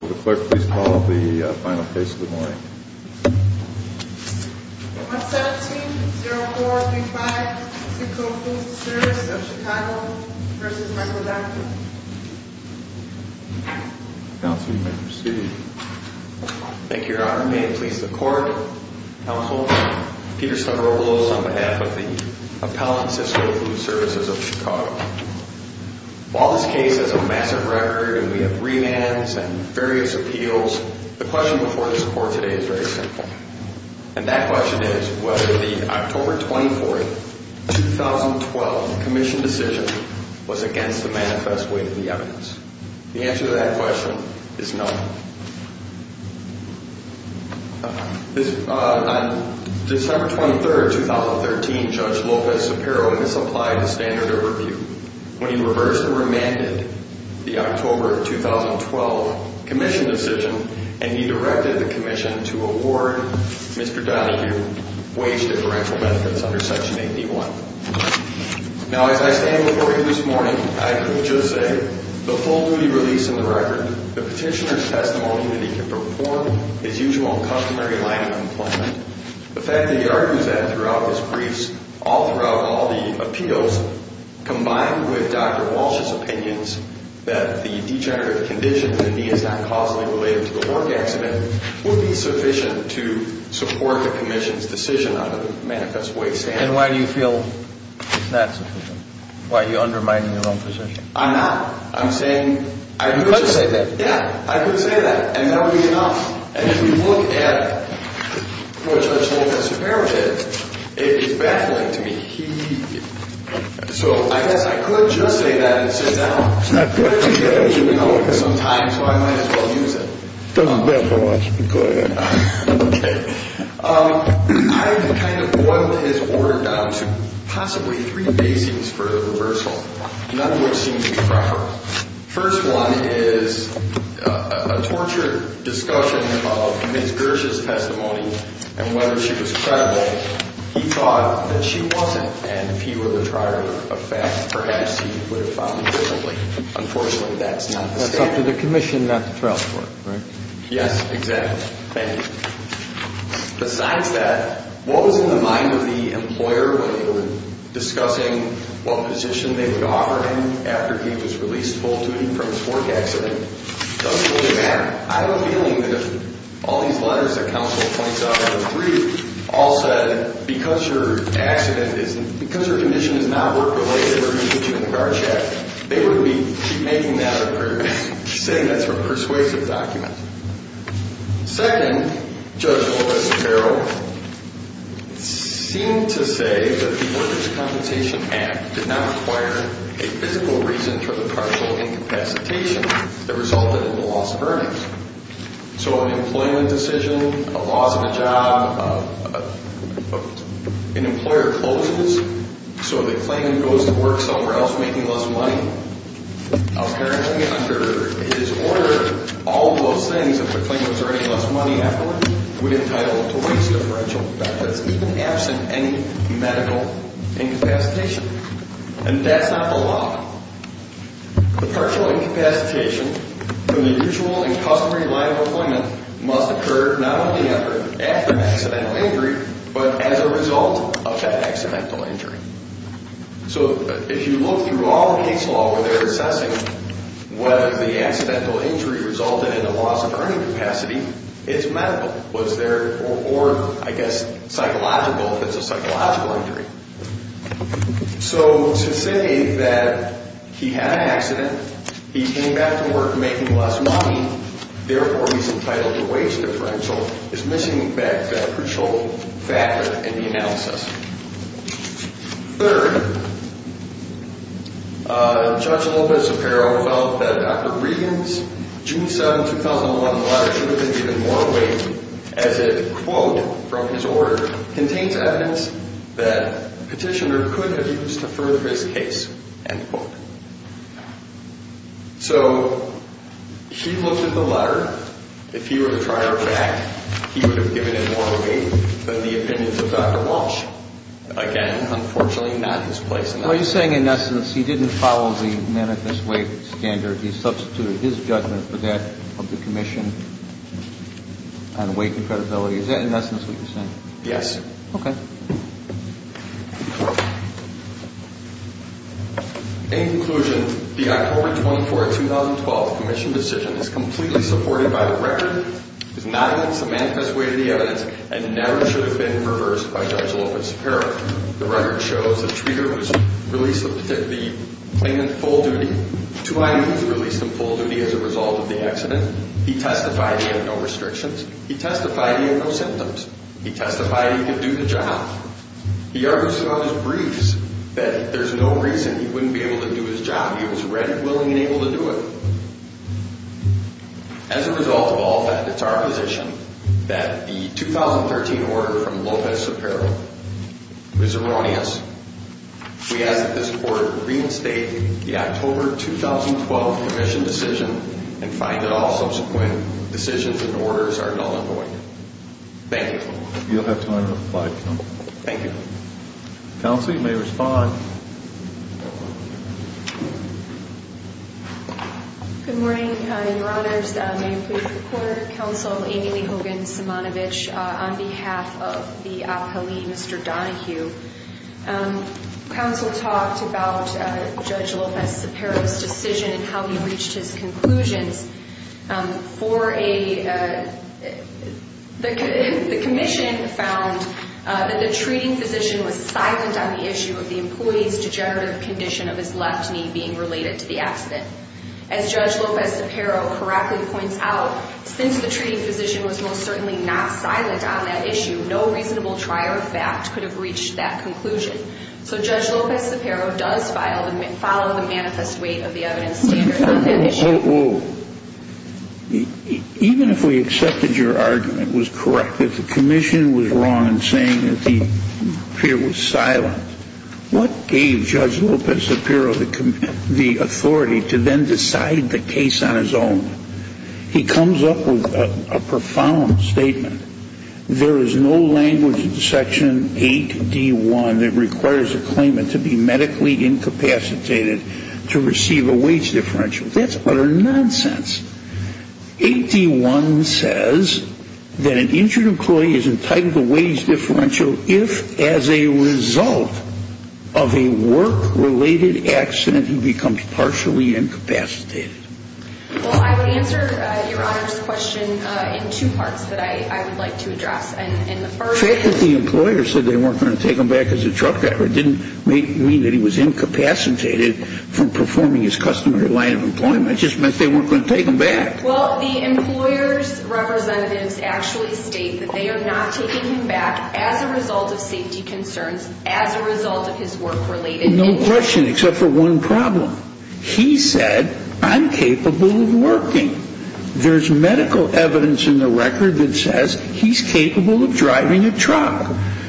The Clerk, please call the final case of the morning. 117-0435, Sysco Food Service of Chicago v. Micro-Documents. Counsel, you may proceed. Thank you, Your Honor. May it please the Court, Counsel, Peter Stoneropoulos on behalf of the appellants of Sysco Food Services of Chicago. While this case has a massive record and we have revams and various appeals, the question before this Court today is very simple. And that question is whether the October 24, 2012, Commission decision was against the manifest weight of the evidence. The answer to that question is no. On December 23, 2013, Judge Lopez-Sapiro misapplied the standard overview when he reversed and remanded the October 2012 Commission decision and he directed the Commission to award Mr. Donahue wage differential benefits under Section 81. Now, as I stand before you this morning, I can just say the full duty release in the record, the Petitioner's testimony that he can perform his usual and customary line of employment. The fact that he argues that throughout his briefs, all throughout all the appeals, combined with Dr. Walsh's opinions that the degenerative condition that he is not causally related to the work accident would be sufficient to support the Commission's decision on the manifest weight standard. And why do you feel it's not sufficient? Why are you undermining your own position? I'm not. I'm saying I could just say that. Yeah, I could say that. And that would be enough. And if you look at what Judge Lopez-Sapiro did, it is baffling to me. He, so I guess I could just say that and sit down. It's not good for me. Even though it is some time, so I might as well use it. It's not good for us. Go ahead. Okay. I have kind of boiled his order down to possibly three basings for the reversal. None of which seem to be proper. First one is a torture discussion of Ms. Gersh's testimony and whether she was credible. He thought that she wasn't. And if he were the trier of facts, perhaps he would have found it visibly. Unfortunately, that's not the standard. That's up to the Commission, not the trial court, right? Yes, exactly. Thank you. Besides that, what was in the mind of the employer when they were discussing what position they would offer him after he was released full duty from his work accident? It doesn't really matter. I have a feeling that if all these letters that counsel points out on the brief all said, because your accident is, because your condition is not work-related, we're going to put you in the guard shack, they would be making that up, saying that's a persuasive document. Second, Judge Lopez-Ferrero seemed to say that the Workers' Compensation Act did not require a physical reason for the partial incapacitation that resulted in the loss of earnings. So an employment decision, a loss of a job, an employer closes, so the claimant goes to work somewhere else making less money. Now, apparently under his order, all those things, if the claimant's earning less money afterwards, would entitle him to waste of financial benefits, even absent any medical incapacitation. And that's not the law. The partial incapacitation from the usual and customary line of employment must occur not only after accidental injury, but as a result of that accidental injury. So if you look through all the case law where they're assessing whether the accidental injury resulted in a loss of earning capacity, it's medical. Or, I guess, psychological, if it's a psychological injury. So to say that he had an accident, he came back to work making less money, therefore he's entitled to wage differential, is missing back that crucial factor in the analysis. Third, Judge Lopez-Sapero felt that Dr. Regan's June 7, 2011, letter should have been given more weight as it, quote, from his order, contains evidence that a petitioner could have used to further his case, end quote. So he looked at the letter. If he were to try our fact, he would have given it more weight than the opinions of Dr. Walsh. Again, unfortunately, not his place in that. Are you saying, in essence, he didn't follow the manifest weight standard? He substituted his judgment for that of the commission on weight and credibility? Is that, in essence, what you're saying? Yes. Okay. In conclusion, the October 24, 2012, commission decision is completely supported by the record, is not against the manifest weight of the evidence, and never should have been reversed by Judge Lopez-Sapero. The record shows the treater was released in full duty as a result of the accident. He testified he had no restrictions. He testified he had no symptoms. He testified he could do the job. He argued throughout his briefs that there's no reason he wouldn't be able to do his job. He was ready, willing, and able to do it. As a result of all that, it's our position that the 2013 order from Lopez-Sapero is erroneous. We ask that this Court reinstate the October 2012 commission decision and find that all subsequent decisions and orders are null and void. Thank you. You'll have time to reply, counsel. Thank you. Counsel, you may respond. Good morning, Your Honors. May it please the Court. Counsel Amy Lee Hogan-Simonovich on behalf of the appellee, Mr. Donohue. Counsel talked about Judge Lopez-Sapero's decision and how he reached his conclusions. The commission found that the treating physician was silent on the issue of the employee's degenerative condition of his left knee being related to the accident. As Judge Lopez-Sapero correctly points out, since the treating physician was most certainly not silent on that issue, no reasonable trier of fact could have reached that conclusion. So Judge Lopez-Sapero does follow the manifest weight of the evidence standards on that issue. Well, even if we accepted your argument was correct, that the commission was wrong in saying that the peer was silent, what gave Judge Lopez-Sapero the authority to then decide the case on his own? He comes up with a profound statement. There is no language in Section 8D1 that requires a claimant to be medically incapacitated to receive a weight differential. That's utter nonsense. 8D1 says that an injured employee is entitled to a weight differential if, as a result of a work-related accident, he becomes partially incapacitated. Well, I would answer Your Honor's question in two parts that I would like to address. And the first is... The fact that the employer said they weren't going to take him back as a truck driver didn't mean that he was incapacitated from performing his customary line of employment. It just meant they weren't going to take him back. Well, the employer's representatives actually state that they are not taking him back as a result of safety concerns, as a result of his work-related injuries. No question except for one problem. He said, I'm capable of working. There's medical evidence in the record that says he's capable of driving a truck.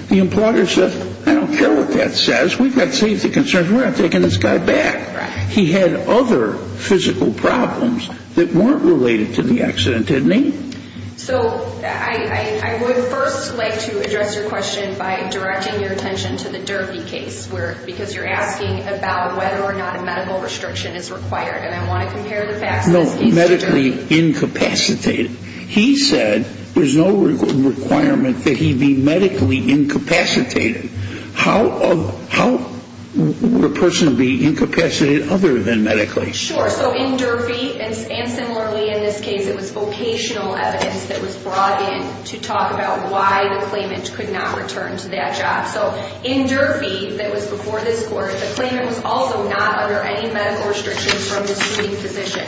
The employer says, I don't care what that says. We've got safety concerns. We're not taking this guy back. He had other physical problems that weren't related to the accident, didn't he? So I would first like to address your question by directing your attention to the Derby case because you're asking about whether or not a medical restriction is required. And I want to compare the facts. No, medically incapacitated. He said there's no requirement that he be medically incapacitated. How would a person be incapacitated other than medically? Sure. So in Derby, and similarly in this case, it was vocational evidence that was brought in to talk about why the claimant could not return to that job. So in Derby, that was before this court, the claimant was also not under any medical restrictions from the suing physician.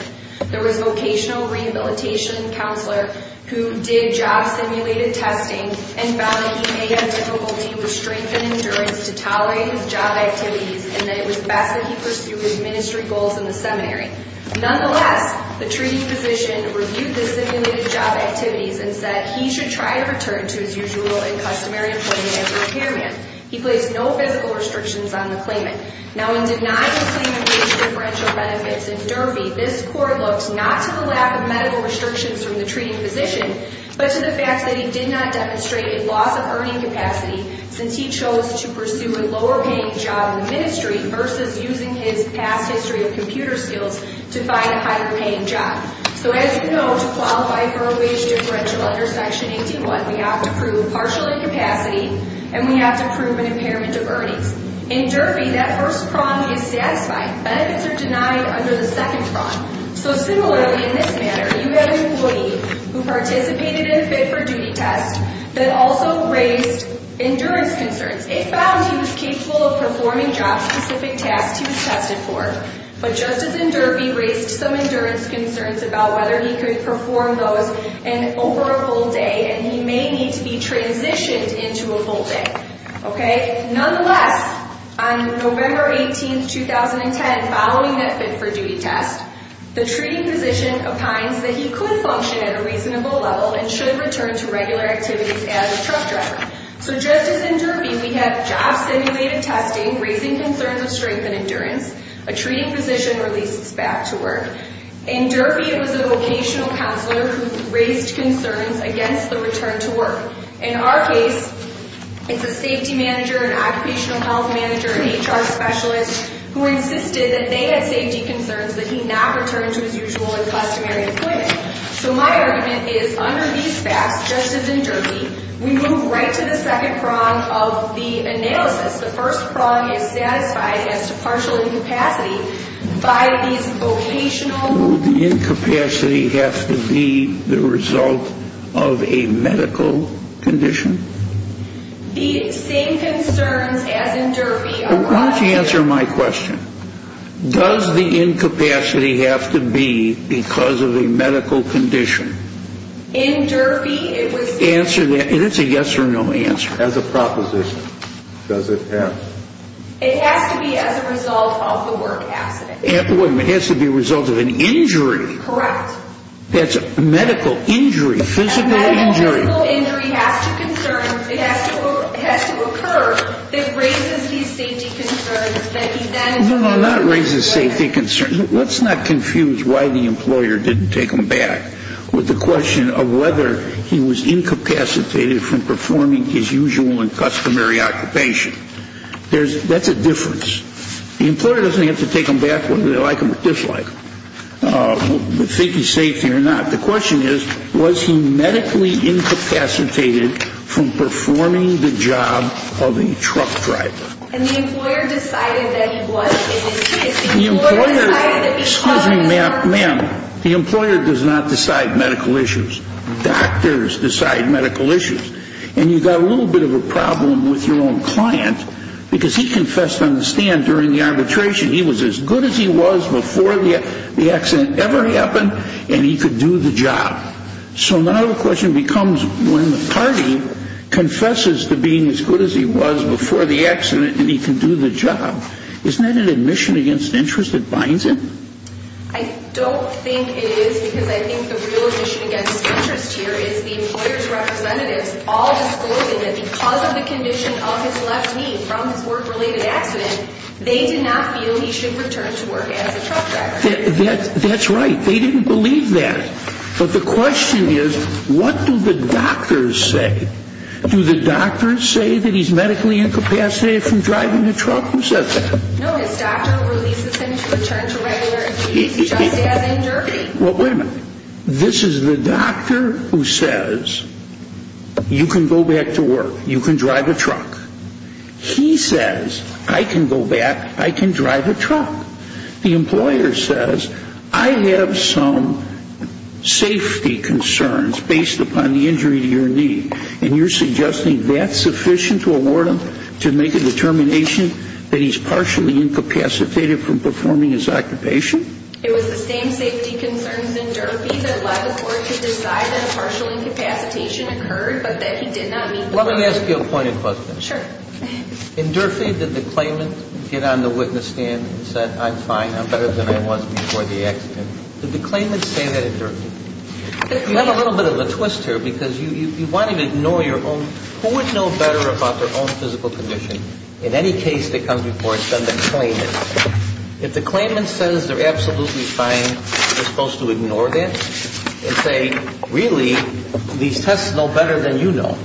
There was a vocational rehabilitation counselor who did job simulated testing and found that he may have difficulty with strength and endurance to tolerate his job activities and that it was best that he pursue his ministry goals in the seminary. Nonetheless, the treating physician reviewed the simulated job activities and said he should try to return to his usual and customary employment as a repairman. He placed no physical restrictions on the claimant. Now in denying the claimant wage differential benefits in Derby, this court looks not to the lack of medical restrictions from the treating physician, but to the fact that he did not demonstrate a loss of earning capacity since he chose to pursue a lower-paying job in the ministry versus using his past history of computer skills to find a higher-paying job. So as you know, to qualify for a wage differential under Section 81, we have to prove partial incapacity and we have to prove an impairment of earnings. In Derby, that first prong is satisfied. Benefits are denied under the second prong. So similarly, in this manner, you have an employee who participated in a fit-for-duty test that also raised endurance concerns. It found he was capable of performing job-specific tasks he was tested for, but Justice in Derby raised some endurance concerns about whether he could perform those over a full day and he may need to be transitioned into a full day. Nonetheless, on November 18, 2010, following that fit-for-duty test, the treating physician opines that he could function at a reasonable level and should return to regular activities as a truck driver. So Justice in Derby, we have job-simulated testing raising concerns of strength and endurance. A treating physician releases back to work. In Derby, it was a vocational counselor who raised concerns against the return to work. In our case, it's a safety manager, an occupational health manager, an HR specialist who insisted that they had safety concerns that he not return to his usual and customary employment. So my argument is under these facts, Justice in Derby, we move right to the second prong of the analysis. The first prong is satisfied as to partial incapacity by these vocational... Does the incapacity have to be the result of a medical condition? The same concerns as in Derby... Why don't you answer my question? Does the incapacity have to be because of a medical condition? In Derby, it was... Answer that, and it's a yes or no answer. As a proposition, does it have? It has to be as a result of the work accident. It has to be a result of an injury. Correct. That's a medical injury, a physical injury. A medical injury has to concern, it has to occur that raises these safety concerns that he then... No, no, not raises safety concerns. Let's not confuse why the employer didn't take him back with the question of whether he was incapacitated That's a difference. The employer doesn't have to take him back whether they like him or dislike him, whether he's safe here or not. The question is, was he medically incapacitated from performing the job of a truck driver? And the employer decided that he was incapacitated. The employer decided that... Excuse me, ma'am. The employer does not decide medical issues. Doctors decide medical issues. And you've got a little bit of a problem with your own client, because he confessed on the stand during the arbitration, he was as good as he was before the accident ever happened, and he could do the job. So now the question becomes, when the party confesses to being as good as he was before the accident, and he can do the job, isn't that an admission against interest that binds him? I don't think it is, because I think the real admission against interest here is the employer's representatives all disclosing that because of the condition of his left knee from his work-related accident, they did not feel he should return to work as a truck driver. That's right. They didn't believe that. But the question is, what do the doctors say? Do the doctors say that he's medically incapacitated from driving a truck? Who said that? No, his doctor releases him to return to regular activities, just as in Derby. Well, wait a minute. This is the doctor who says, you can go back to work, you can drive a truck. He says, I can go back, I can drive a truck. The employer says, I have some safety concerns based upon the injury to your knee, and you're suggesting that's sufficient to award him to make a determination that he's partially incapacitated from performing his occupation? It was the same safety concerns in Derby that allowed the court to decide that a partial incapacitation occurred, but that he did not meet the requirements. Let me ask you a pointed question. Sure. In Derby, did the claimant get on the witness stand and said, I'm fine, I'm better than I was before the accident? Did the claimant say that in Derby? You have a little bit of a twist here, because you want to ignore your own. Who would know better about their own physical condition in any case that comes before it than the claimant? If the claimant says they're absolutely fine, you're supposed to ignore that and say, really, these tests know better than you know.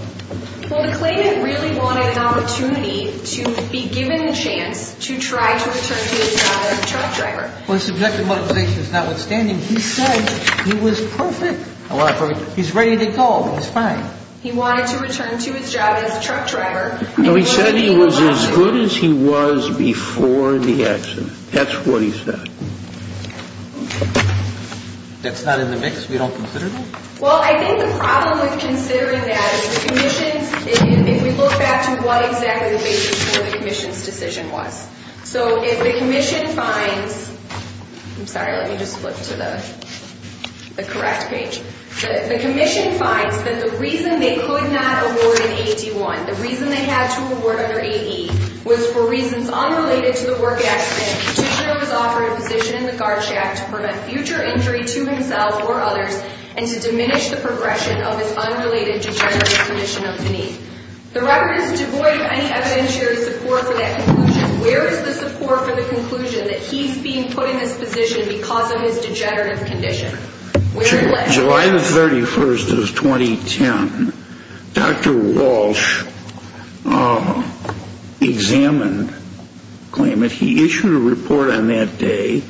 Well, the claimant really wanted an opportunity to be given a chance to try to return to his job as a truck driver. Well, his subjective motivation is notwithstanding. He said he was perfect, however, he's ready to go, he's fine. He wanted to return to his job as a truck driver. No, he said he was as good as he was before the accident. That's what he said. That's not in the mix? We don't consider that? Well, I think the problem with considering that is the commission, if we look back to what exactly the basis for the commission's decision was. So if the commission finds, I'm sorry, let me just flip to the correct page. The commission finds that the reason they could not award an 81, the reason they had to award under AE, was for reasons unrelated to the work accident. The petitioner was offered a position in the guard shack to prevent future injury to himself or others and to diminish the progression of his unrelated degenerative condition of the knee. The record is devoid of any evidentiary support for that conclusion. Where is the support for the conclusion that he's being put in this position because of his degenerative condition? July 31st of 2010, Dr. Walsh examined the claimant. He issued a report on that day.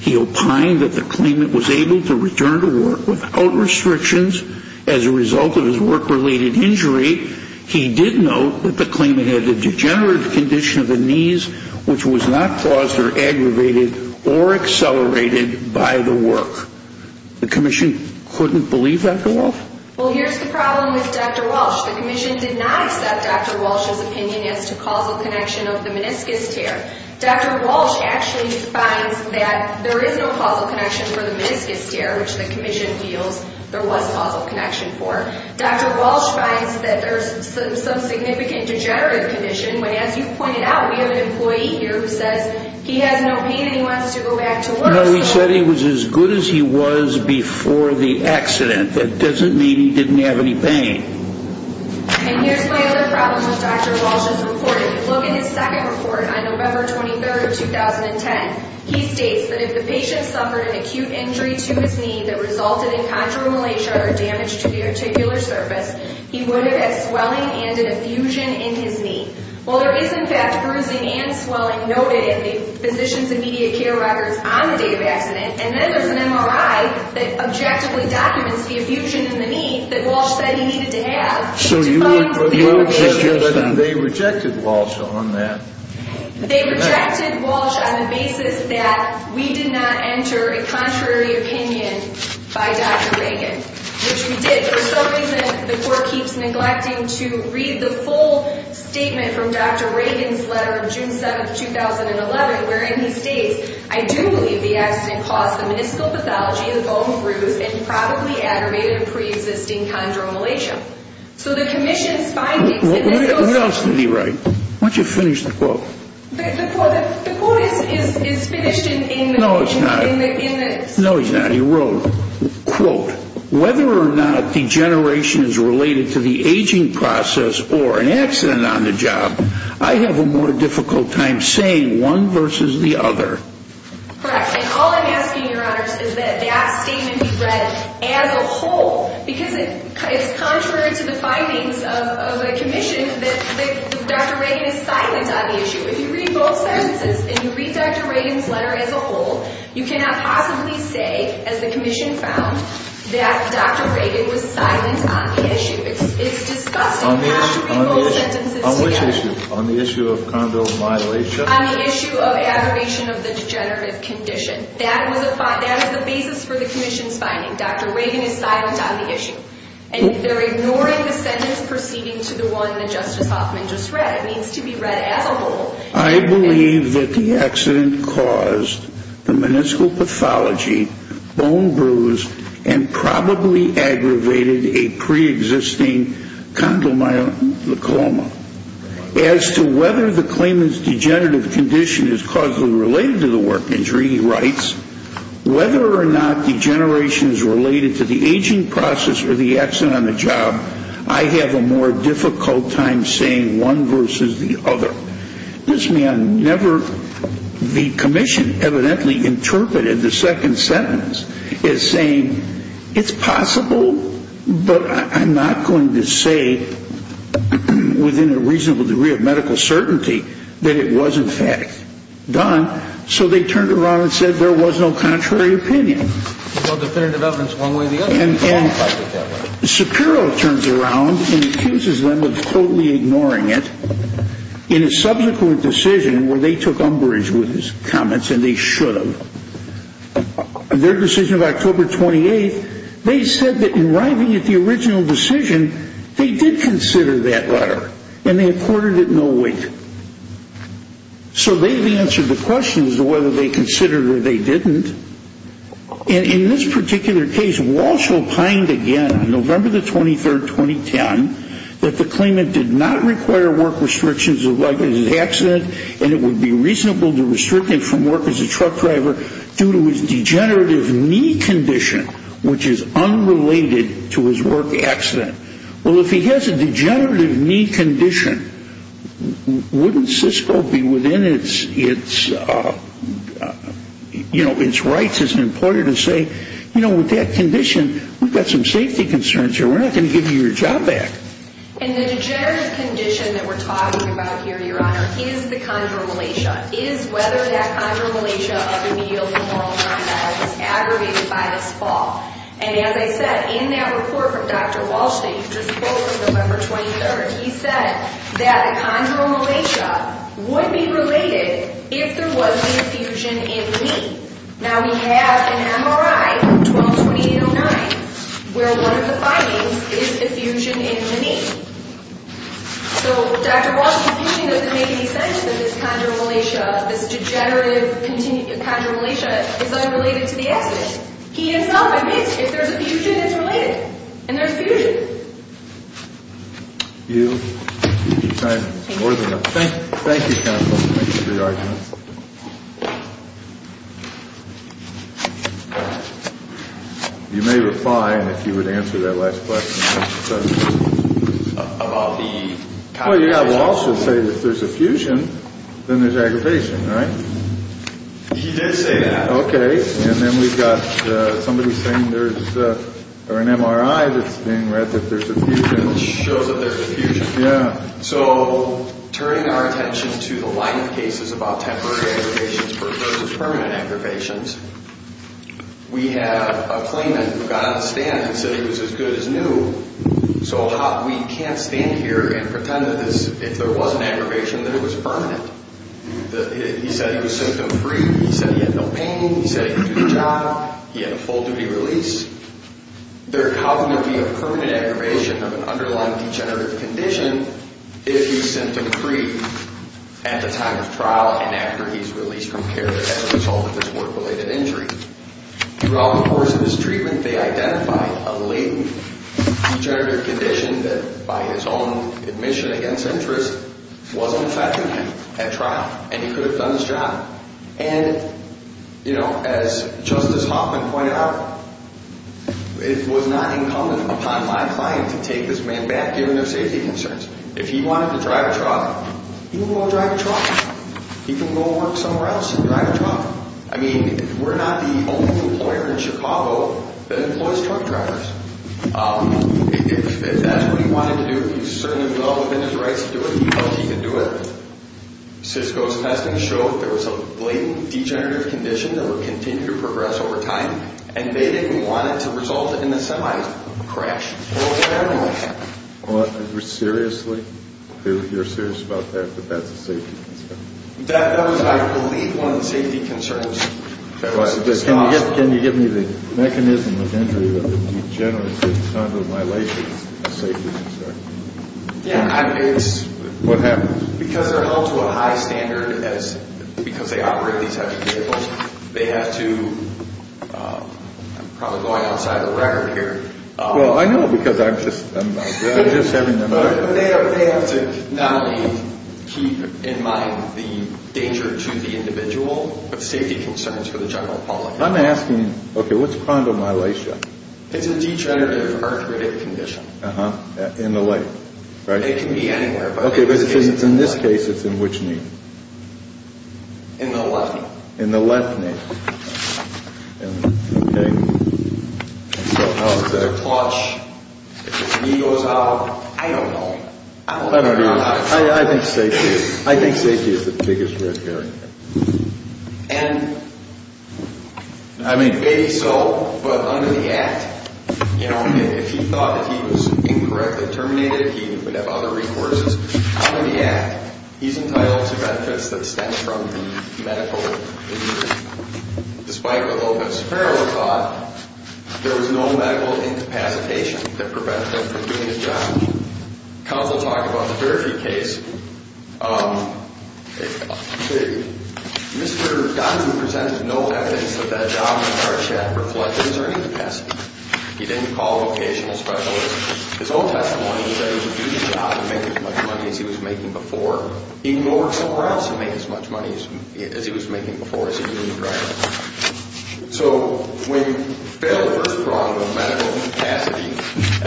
He opined that the claimant was able to return to work without restrictions as a result of his work-related injury. He did note that the claimant had a degenerative condition of the knees which was not caused or aggravated or accelerated by the work. The commission couldn't believe that, Dr. Walsh? Well, here's the problem with Dr. Walsh. The commission did not accept Dr. Walsh's opinion as to causal connection of the meniscus tear. Dr. Walsh actually finds that there is no causal connection for the meniscus tear, which the commission feels there was causal connection for. Dr. Walsh finds that there's some significant degenerative condition, but as you pointed out, we have an employee here who says he has no pain and he wants to go back to work. No, he said he was as good as he was before the accident. That doesn't mean he didn't have any pain. And here's my other problem with Dr. Walsh's report. If you look at his second report on November 23rd of 2010, he states that if the patient suffered an acute injury to his knee that resulted in contralateral damage to the articular surface, he would have had swelling and an effusion in his knee. Well, there is, in fact, bruising and swelling noted in the physicians' and media care records on the day of the accident, and then there's an MRI that objectively documents the effusion in the knee that Walsh said he needed to have. So you would suggest that they rejected Walsh on that? They rejected Walsh on the basis that we did not enter a contrary opinion by Dr. Reagan, which we did. It is something that the court keeps neglecting to read the full statement from Dr. Reagan's letter of June 7th, 2011, wherein he states, I do believe the accident caused the meniscal pathology, the bone bruise, and probably aggravated pre-existing chondromalacia. So the commission's findings in this case— What else did he write? Why don't you finish the quote? The quote is finished in— No, it's not. No, it's not. Whether or not degeneration is related to the aging process or an accident on the job, I have a more difficult time saying one versus the other. Correct, and all I'm asking, Your Honors, is that that statement be read as a whole because it's contrary to the findings of the commission that Dr. Reagan is silent on the issue. If you read both sentences and you read Dr. Reagan's letter as a whole, you cannot possibly say, as the commission found, that Dr. Reagan was silent on the issue. It's disgusting not to read both sentences together. On which issue? On the issue of chondromalacia? On the issue of aggravation of the degenerative condition. That is the basis for the commission's finding. Dr. Reagan is silent on the issue. And they're ignoring the sentence proceeding to the one that Justice Hoffman just read. It needs to be read as a whole. I believe that the accident caused the meniscal pathology, bone bruise, and probably aggravated a preexisting chondromalacoma. As to whether the claimant's degenerative condition is causally related to the work injury, he writes, whether or not degeneration is related to the aging process or the accident on the job, I have a more difficult time saying one versus the other. This man never, the commission evidently interpreted the second sentence as saying, it's possible, but I'm not going to say within a reasonable degree of medical certainty that it was in fact done. So they turned around and said there was no contrary opinion. No definitive evidence one way or the other. And Shapiro turns around and accuses them of totally ignoring it in a subsequent decision where they took umbrage with his comments and they should have. Their decision of October 28th, they said that in arriving at the original decision, they did consider that letter and they accorded it no weight. So they've answered the question as to whether they considered it or they didn't. And in this particular case, Walsh opined again, November 23rd, 2010, that the claimant did not require work restrictions like his accident and it would be reasonable to restrict him from work as a truck driver due to his degenerative knee condition, which is unrelated to his work accident. Well, if he has a degenerative knee condition, wouldn't Cisco be within its, you know, its rights as an employer to say, you know, with that condition, we've got some safety concerns here. We're not going to give you your job back. And the degenerative condition that we're talking about here, Your Honor, is the chondromalacia. It is whether that chondromalacia of the medial femoral condyle was aggravated by this fall. And as I said, in that report from Dr. Walsh that you just quote from November 23rd, he said that the chondromalacia would be related if there was an effusion in the knee. Now, we have an MRI from 12-2809 where one of the findings is effusion in the knee. So Dr. Walsh's opinion doesn't make any sense that this chondromalacia, this degenerative chondromalacia is unrelated to the accident. He himself admits if there's effusion, it's related. And there's effusion. You keep signing. Thank you. Thank you, counsel, for making your argument. You may reply if you would answer that last question. Well, you know, Walsh would say if there's effusion, then there's aggravation, right? He did say that. Okay. And then we've got somebody saying there's an MRI that's being read that there's effusion. It shows that there's effusion. Yeah. So turning our attention to the line of cases about temporary aggravations versus permanent aggravations, we have a claimant who got on the stand and said he was as good as new. So we can't stand here and pretend that if there was an aggravation, that it was permanent. He said he was symptom-free. He said he had no pain. He said he could do the job. He had a full-duty release. There could not be a permanent aggravation of an underlying degenerative condition if he's symptom-free at the time of trial and after he's released from care as a result of this work-related injury. Throughout the course of this treatment, they identified a latent degenerative condition that, by his own admission against interest, wasn't effective at trial, and he could have done this job. And, you know, as Justice Hoffman pointed out, it was not incumbent upon my client to take this man back given their safety concerns. If he wanted to drive a truck, he can go drive a truck. He can go work somewhere else and drive a truck. I mean, we're not the only employer in Chicago that employs truck drivers. If that's what he wanted to do, he certainly fell within his rights to do it. He felt he could do it. CISCO's testing showed there was a latent degenerative condition that would continue to progress over time, and they didn't want it to result in a semi-crash or what have you. Well, seriously? You're serious about that, that that's a safety concern? That was, I believe, one of the safety concerns. Can you give me the mechanism of injury that degenerates at the time of the violation as a safety concern? Yeah, it's... What happens? Because they're held to a high standard because they operate these types of vehicles, they have to... I'm probably going outside the record here. Well, I know because I'm just... They have to not only keep in mind the danger to the individual, but safety concerns for the general public. I'm asking, okay, what's chrondomyelitia? It's a degenerative arthritic condition. In the leg, right? It can be anywhere. Okay, because in this case, it's in which knee? In the left knee. In the left knee. Okay. How is that? It's a clutch. If his knee goes out, I don't know. I don't either. I think safety is the biggest risk here. And maybe so, but under the Act, if he thought that he was incorrectly terminated, he would have other recourses. Under the Act, he's entitled to benefits that stem from the medical... Despite what Lopez-Farrell thought, there was no medical incapacitation that prevented him from doing his job. Counsel talked about the Dirty Case. Mr. Donahue presented no evidence that that job in the car shed reflected his or her incapacity. He didn't call a vocational specialist. His own testimony was that he would do the job and make as much money as he was making before. He can go work somewhere else and make as much money as he was making before, as he did in the car shed. So when you fail the first prong of medical incapacity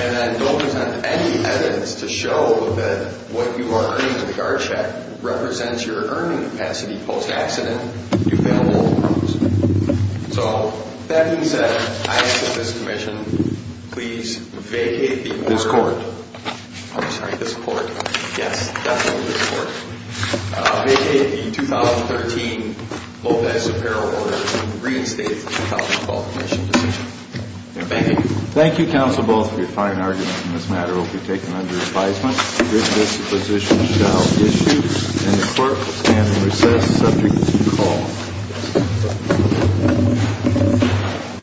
and then don't present any evidence to show that what you are earning in the car shed represents your earning capacity post-accident, you fail both prongs. So that being said, I ask that this commission please vacate the order... This court. I'm sorry, this court. Yes, definitely this court. Vacate the 2013 Lopez-Farrell order and reinstate the counsel's qualification position. Thank you. Thank you, counsel, both, for your fine argument. This matter will be taken under advisement. This position shall be issued, and the court will stand in recess subject to call.